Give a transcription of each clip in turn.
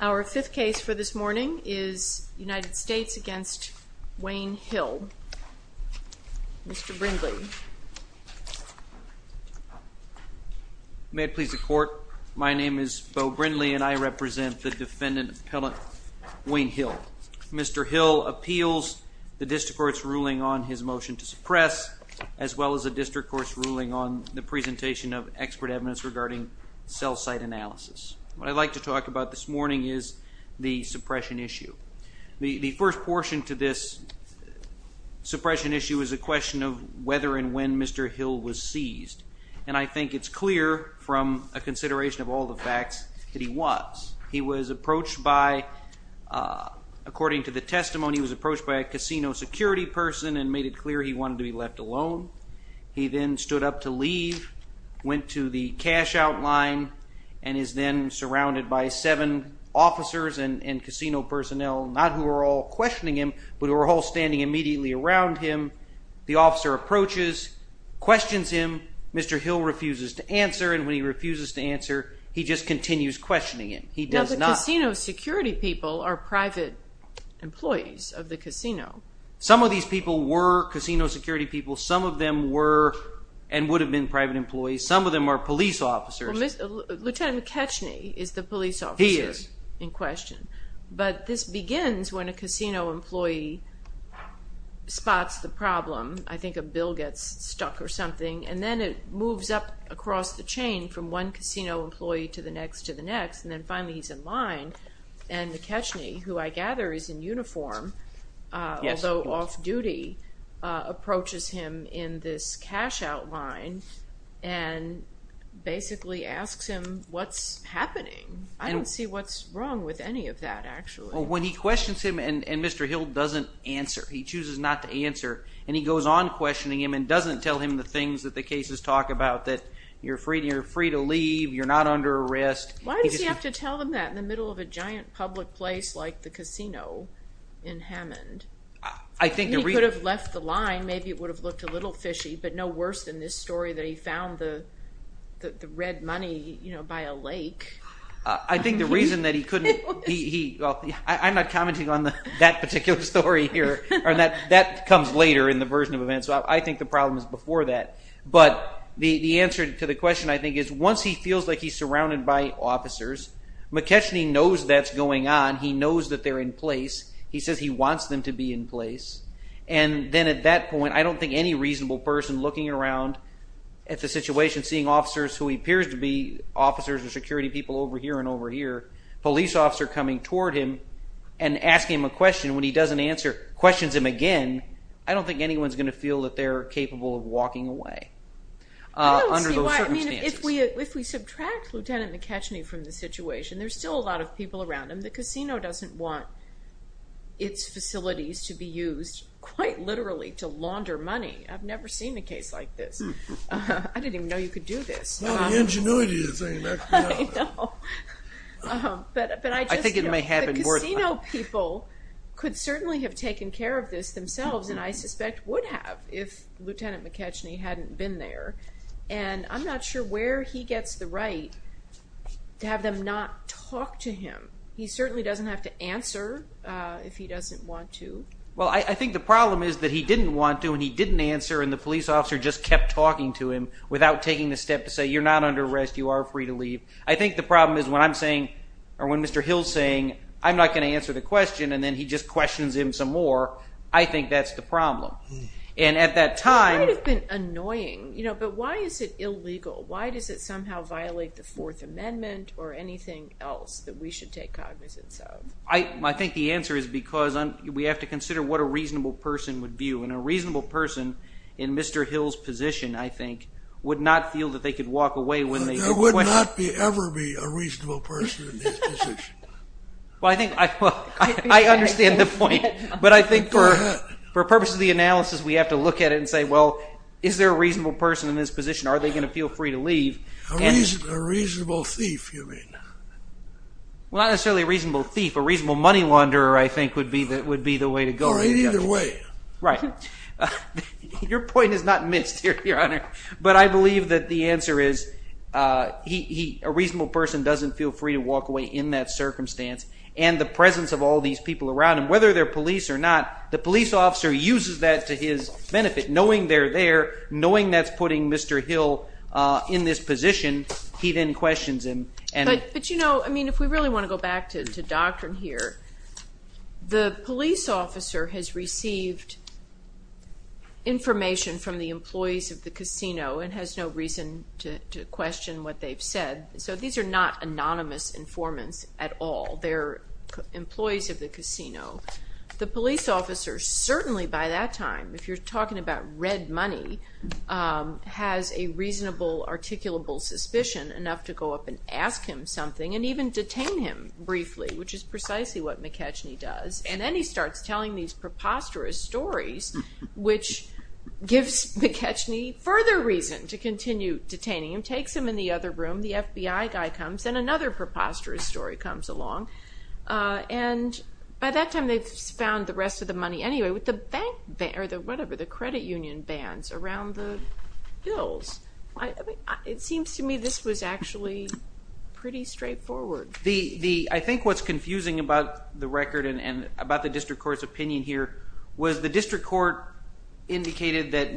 Our fifth case for this morning is United States v. Wayne Hill. Mr. Brindley. May it please the court, my name is Beau Brindley and I represent the defendant-appellant Wayne Hill. Mr. Hill appeals the district court's ruling on his motion to suppress as well as the district court's ruling on the presentation of expert evidence regarding cell site analysis. What I'd like to talk about this morning is the suppression issue. The first portion to this suppression issue is a question of whether and when Mr. Hill was seized. And I think it's clear from a consideration of all the facts that he was. He was approached by, according to the testimony, he was approached by a casino security person and made it clear he wanted to be left alone. He then stood up to leave, went to the cash out line, and is then surrounded by seven officers and casino personnel, not who are all questioning him, but who are all standing immediately around him. The officer approaches, questions him, Mr. Hill refuses to answer, and when he refuses to answer, he just continues questioning him. He does not- Now the casino security people are private employees of the casino. Some of these people were casino security people. Some of them were and would have been private employees. Some of them are police officers. Well, Lieutenant McCatchney is the police officer- He is. But this begins when a casino employee spots the problem. I think a bill gets stuck or something, and then it moves up across the chain from one casino employee to the next to the next, and then finally he's in line. And McCatchney, who I gather is in uniform, although off-duty, approaches him in this cash out line and basically asks him what's happening. I don't see what's wrong with any of that actually. Well, when he questions him and Mr. Hill doesn't answer, he chooses not to answer, and he goes on questioning him and doesn't tell him the things that the cases talk about, that you're free to leave, you're not under arrest. Why does he have to tell them that in the middle of a giant public place like the casino in Hammond? I think the reason- He could have left the line. Maybe it would have looked a little fishy, but no worse than this story that he found the red money by a lake. I think the reason that he couldn't- Well, I'm not commenting on that particular story here. That comes later in the version of events, so I think the problem is before that. But the answer to the question, I think, is once he feels like he's surrounded by officers, McCatchney knows that's going on. He knows that they're in place. He says he wants them to be in place. And then at that point, I don't think any reasonable person looking around at the situation, seeing officers who appears to be officers or security people over here and over here, police officer coming toward him and asking him a question when he doesn't answer, questions him again, I don't think anyone's going to feel that they're capable of walking away under those circumstances. I mean, if we subtract Lieutenant McCatchney from the situation, there's still a lot of people around him. The casino doesn't want its facilities to be used, quite literally, to launder money. I've never seen a case like this. I didn't even know you could do this. The ingenuity of the thing. I think it may happen more than once. The casino people could certainly have taken care of this themselves, and I suspect would have if Lieutenant McCatchney hadn't been there. And I'm not sure where he gets the right to have them not talk to him. He certainly doesn't have to answer if he doesn't want to. Well, I think the problem is that he didn't want to, and he didn't answer, and the police officer just kept talking to him without taking the step to say, you're not under arrest, you are free to leave. I think the problem is when I'm saying, or when Mr. Hill's saying, I'm not going to answer the question, and then he just questions him some more, I think that's the problem. And at that time… It might have been annoying, but why is it illegal? Why does it somehow violate the Fourth Amendment or anything else that we should take cognizance of? I think the answer is because we have to consider what a reasonable person would view, and a reasonable person in Mr. Hill's position, I think, would not feel that they could walk away when they… There would not ever be a reasonable person in his position. I understand the point, but I think for purposes of the analysis, we have to look at it and say, well, is there a reasonable person in this position? Are they going to feel free to leave? A reasonable thief, you mean. Well, not necessarily a reasonable thief. A reasonable money launderer, I think, would be the way to go. Either way. Right. Your point is not missed, Your Honor, but I believe that the answer is a reasonable person doesn't feel free to walk away in that circumstance, and the presence of all these people around him, whether they're police or not, the police officer uses that to his benefit, knowing they're there, knowing that's putting Mr. Hill in this position, he then questions him. But, you know, I mean, if we really want to go back to doctrine here, the police officer has received information from the employees of the casino and has no reason to question what they've said, so these are not anonymous informants at all. They're employees of the casino. The police officer, certainly by that time, if you're talking about red money, has a reasonable, articulable suspicion enough to go up and ask him something and even detain him briefly, which is precisely what McKechnie does. And then he starts telling these preposterous stories, which gives McKechnie further reason to continue detaining him, takes him in the other room, the FBI guy comes, and another preposterous story comes along, and by that time they've found the rest of the money anyway with the credit union bans around the bills. It seems to me this was actually pretty straightforward. I think what's confusing about the record and about the district court's opinion here was the district court indicated that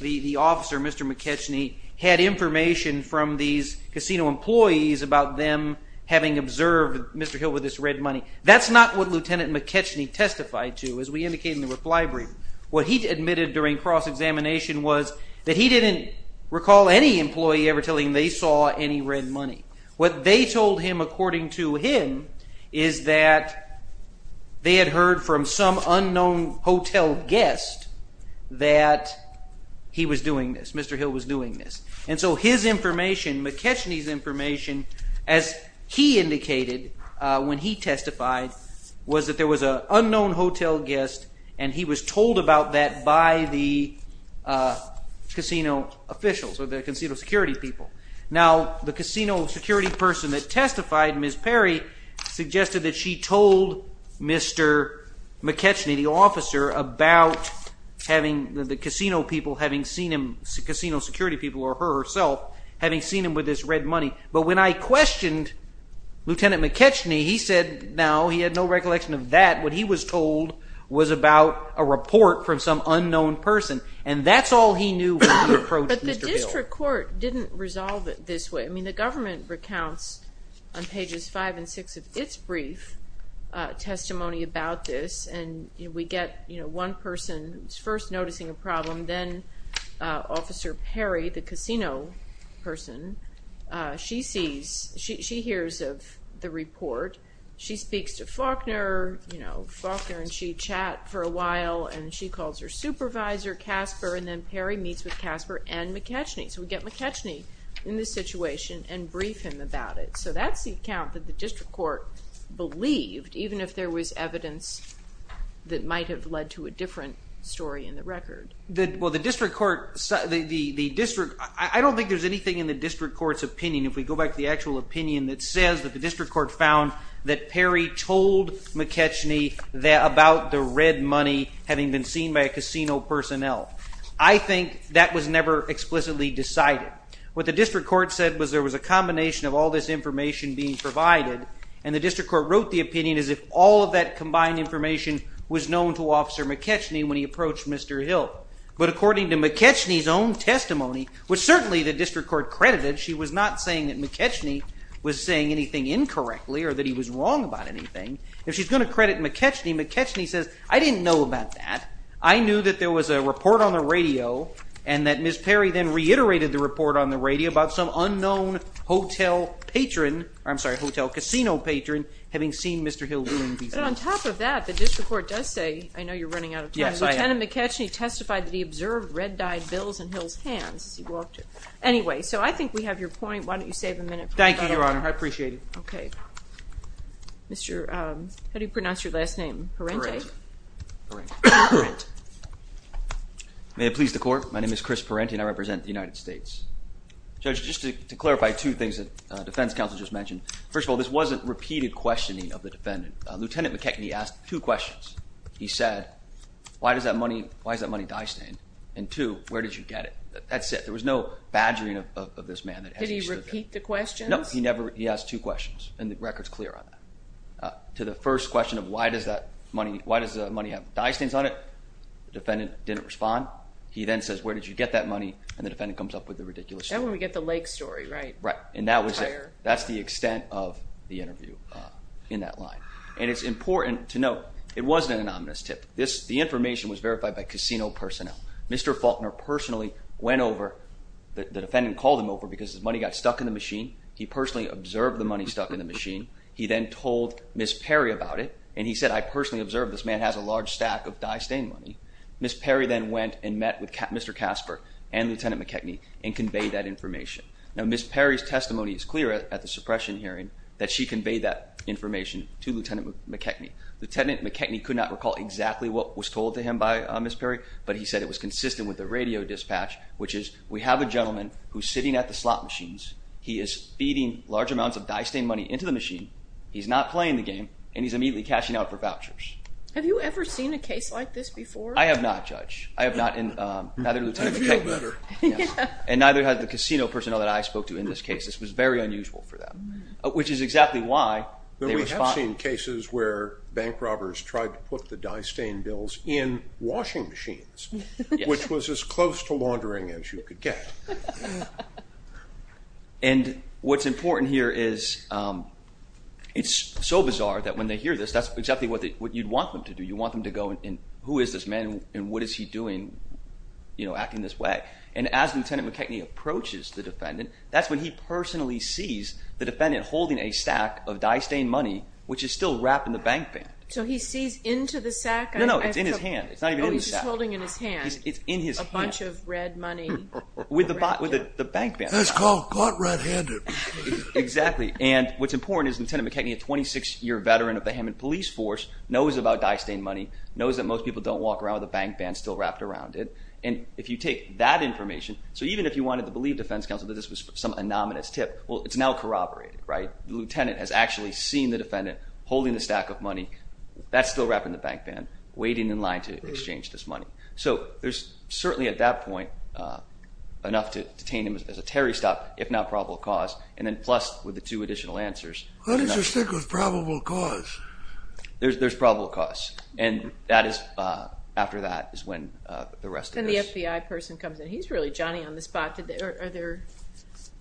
the officer, Mr. McKechnie, had information from these casino employees about them having observed Mr. Hill with this red money. That's not what Lieutenant McKechnie testified to, as we indicated in the reply brief. What he admitted during cross-examination was that he didn't recall any employee ever telling him they saw any red money. What they told him, according to him, is that they had heard from some unknown hotel guest that he was doing this, Mr. Hill was doing this. And so his information, McKechnie's information, as he indicated when he testified, was that there was an unknown hotel guest and he was told about that by the casino officials or the casino security people. Now, the casino security person that testified, Ms. Perry, suggested that she told Mr. McKechnie, the officer, about the casino security people or her herself having seen him with this red money. But when I questioned Lieutenant McKechnie, he said now he had no recollection of that. What he was told was about a report from some unknown person, and that's all he knew when he approached Mr. Hill. The district court didn't resolve it this way. I mean, the government recounts on pages 5 and 6 of its brief testimony about this, and we get one person first noticing a problem, then Officer Perry, the casino person, she sees, she hears of the report. She speaks to Faulkner, you know, Faulkner and she chat for a while, and she calls her supervisor, Casper, and then Perry meets with Casper and McKechnie. So we get McKechnie in this situation and brief him about it. So that's the account that the district court believed, even if there was evidence that might have led to a different story in the record. I don't think there's anything in the district court's opinion, if we go back to the actual opinion, that says that the district court found that Perry told McKechnie about the red money having been seen by a casino personnel. I think that was never explicitly decided. What the district court said was there was a combination of all this information being provided, and the district court wrote the opinion as if all of that combined information was known to Officer McKechnie when he approached Mr. Hill. But according to McKechnie's own testimony, which certainly the district court credited, she was not saying that McKechnie was saying anything incorrectly or that he was wrong about anything. If she's going to credit McKechnie, McKechnie says, I didn't know about that. I knew that there was a report on the radio and that Ms. Perry then reiterated the report on the radio about some unknown hotel patron, I'm sorry, hotel casino patron, having seen Mr. Hill doing business. But on top of that, the district court does say, I know you're running out of time, Lieutenant McKechnie testified that he observed red-dyed bills in Hill's hands as he walked in. Anyway, so I think we have your point. Why don't you save a minute? Thank you, Your Honor. I appreciate it. Okay. Mr., how do you pronounce your last name? Perranti? Perranti. Perranti. May it please the court, my name is Chris Perranti and I represent the United States. Judge, just to clarify two things that defense counsel just mentioned. First of all, this wasn't repeated questioning of the defendant. Lieutenant McKechnie asked two questions. He said, why does that money, why is that money dye stained? And two, where did you get it? That's it. There was no badgering of this man. Did he repeat the questions? No, he never, he asked two questions and the record's clear on that. To the first question of why does that money, why does the money have dye stains on it? The defendant didn't respond. He then says, where did you get that money? And the defendant comes up with a ridiculous story. That's when we get the lake story, right? Right. And that was it. That's the extent of the interview in that line. And it's important to note, it wasn't an ominous tip. This, the information was verified by casino personnel. Mr. Faulkner personally went over, the defendant called him over because his money got stuck in the machine. He personally observed the money stuck in the machine. He then told Ms. Perry about it, and he said, I personally observed this man has a large stack of dye stain money. Ms. Perry then went and met with Mr. Casper and Lieutenant McKechnie and conveyed that information. Now, Ms. Perry's testimony is clear at the suppression hearing that she conveyed that information to Lieutenant McKechnie. Lieutenant McKechnie could not recall exactly what was told to him by Ms. Perry, but he said it was consistent with the radio dispatch, which is, we have a gentleman who's sitting at the slot machines. He is feeding large amounts of dye stain money into the machine. He's not playing the game, and he's immediately cashing out for vouchers. Have you ever seen a case like this before? I have not, Judge. I have not, and neither did Lieutenant McKechnie. And neither has the casino personnel that I spoke to in this case. This was very unusual for them, which is exactly why they were spotted. We have seen cases where bank robbers tried to put the dye stain bills in washing machines, which was as close to laundering as you could get. And what's important here is it's so bizarre that when they hear this, that's exactly what you'd want them to do. You'd want them to go, and who is this man, and what is he doing, you know, acting this way? And as Lieutenant McKechnie approaches the defendant, that's when he personally sees the defendant holding a stack of dye stain money, which is still wrapped in the bank band. So he sees into the sack? No, no, it's in his hand. It's not even in the sack. Oh, he's just holding it in his hand. It's in his hand. A bunch of red money. With the bank band. That's called caught red-handed. Exactly, and what's important is Lieutenant McKechnie, a 26-year veteran of the Hammond Police Force, knows about dye stain money, knows that most people don't walk around with a bank band still wrapped around it. And if you take that information, so even if you wanted to believe defense counsel that this was some anonymous tip, well, it's now corroborated, right? The lieutenant has actually seen the defendant holding the stack of money. That's still wrapped in the bank band, waiting in line to exchange this money. So there's certainly at that point enough to detain him as a Terry stop, if not probable cause, and then plus with the two additional answers. How does it stick with probable cause? There's probable cause, and after that is when the rest of this. And the FBI person comes in. He's really Johnny on the spot.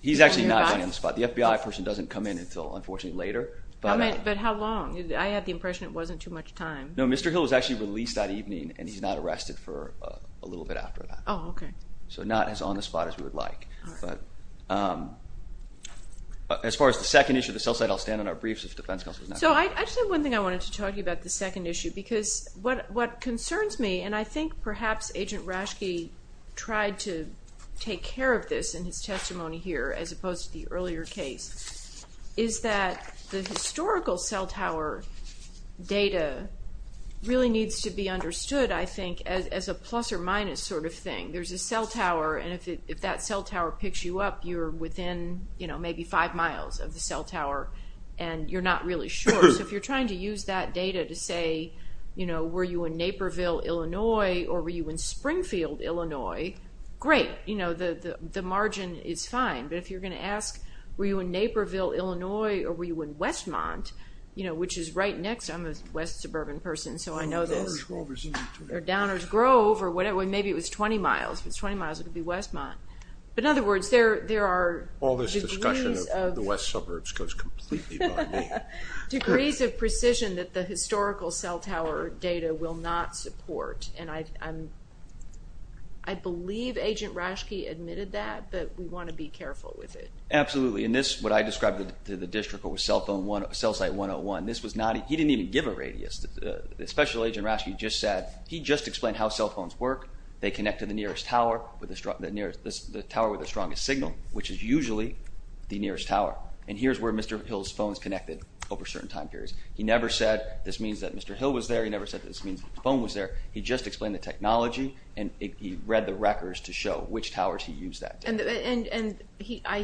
He's actually not Johnny on the spot. The FBI person doesn't come in until, unfortunately, later. But how long? I had the impression it wasn't too much time. No, Mr. Hill was actually released that evening, and he's not arrested for a little bit after that. Oh, okay. So not as on the spot as we would like. All right. But as far as the second issue of the cell site, I'll stand on our briefs if defense counsel is not here. So I just have one thing I wanted to talk to you about, the second issue, because what concerns me, and I think perhaps Agent Rashke tried to take care of this in his testimony here as opposed to the earlier case, is that the historical cell tower data really needs to be understood, I think, as a plus or minus sort of thing. There's a cell tower, and if that cell tower picks you up, you're within maybe five miles of the cell tower, and you're not really sure. So if you're trying to use that data to say, you know, were you in Naperville, Illinois, or were you in Springfield, Illinois, great. You know, the margin is fine. But if you're going to ask, were you in Naperville, Illinois, or were you in Westmont, you know, which is right next. I'm a West suburban person, so I know this. Or Downers Grove, or whatever. Maybe it was 20 miles. If it was 20 miles, it would be Westmont. But in other words, there are degrees of precision that the historical cell tower data will not support. And I believe Agent Raschke admitted that, but we want to be careful with it. Absolutely. And this, what I described to the district, was cell site 101. This was not, he didn't even give a radius. Special Agent Raschke just said, he just explained how cell phones work. They connect to the nearest tower, the tower with the strongest signal, which is usually the nearest tower. And here's where Mr. Hill's phone is connected over certain time periods. He never said, this means that Mr. Hill was there. He never said that this means his phone was there. He just explained the technology, and he read the records to show which towers he used that day. And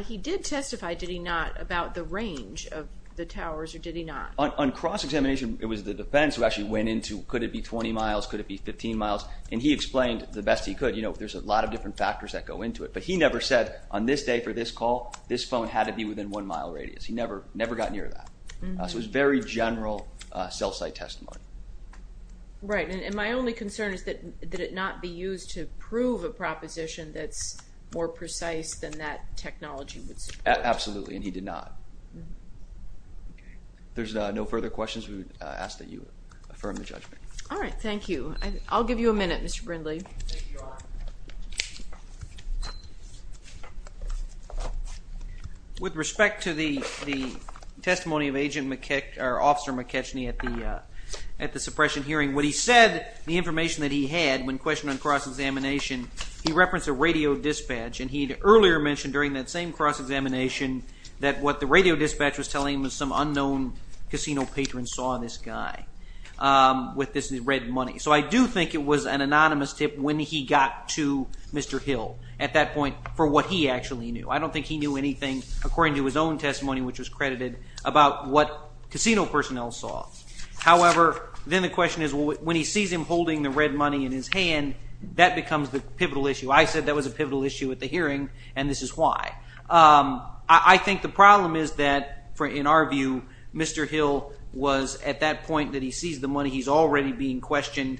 he did testify, did he not, about the range of the towers, or did he not? On cross-examination, it was the defense who actually went into, could it be 20 miles, could it be 15 miles? And he explained the best he could. You know, there's a lot of different factors that go into it. But he never said, on this day for this call, this phone had to be within one mile radius. He never got near that. So it was very general cell site testimony. Right. And my only concern is, did it not be used to prove a proposition that's more precise than that technology would support? Absolutely. And he did not. There's no further questions. We would ask that you affirm the judgment. All right. Thank you. I'll give you a minute, Mr. Brindley. Thank you. With respect to the testimony of Agent McKechnie, or Officer McKechnie, at the suppression hearing, what he said, the information that he had when questioned on cross-examination, he referenced a radio dispatch. And he had earlier mentioned during that same cross-examination that what the radio dispatch was telling him was some unknown casino patron saw this guy with this red money. So I do think it was an anonymous tip when he got to Mr. Hill, at that point, for what he actually knew. I don't think he knew anything, according to his own testimony, which was credited, about what casino personnel saw. However, then the question is, when he sees him holding the red money in his hand, that becomes the pivotal issue. I said that was a pivotal issue at the hearing, and this is why. I think the problem is that, in our view, Mr. Hill was, at that point that he sees the money, he's already being questioned,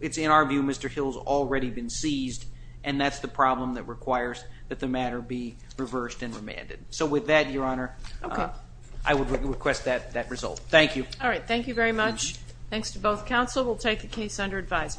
it's in our view Mr. Hill's already been seized, and that's the problem that requires that the matter be reversed and remanded. So with that, Your Honor, I would request that result. Thank you. All right, thank you very much. Thanks to both counsel. We'll take the case under advisement.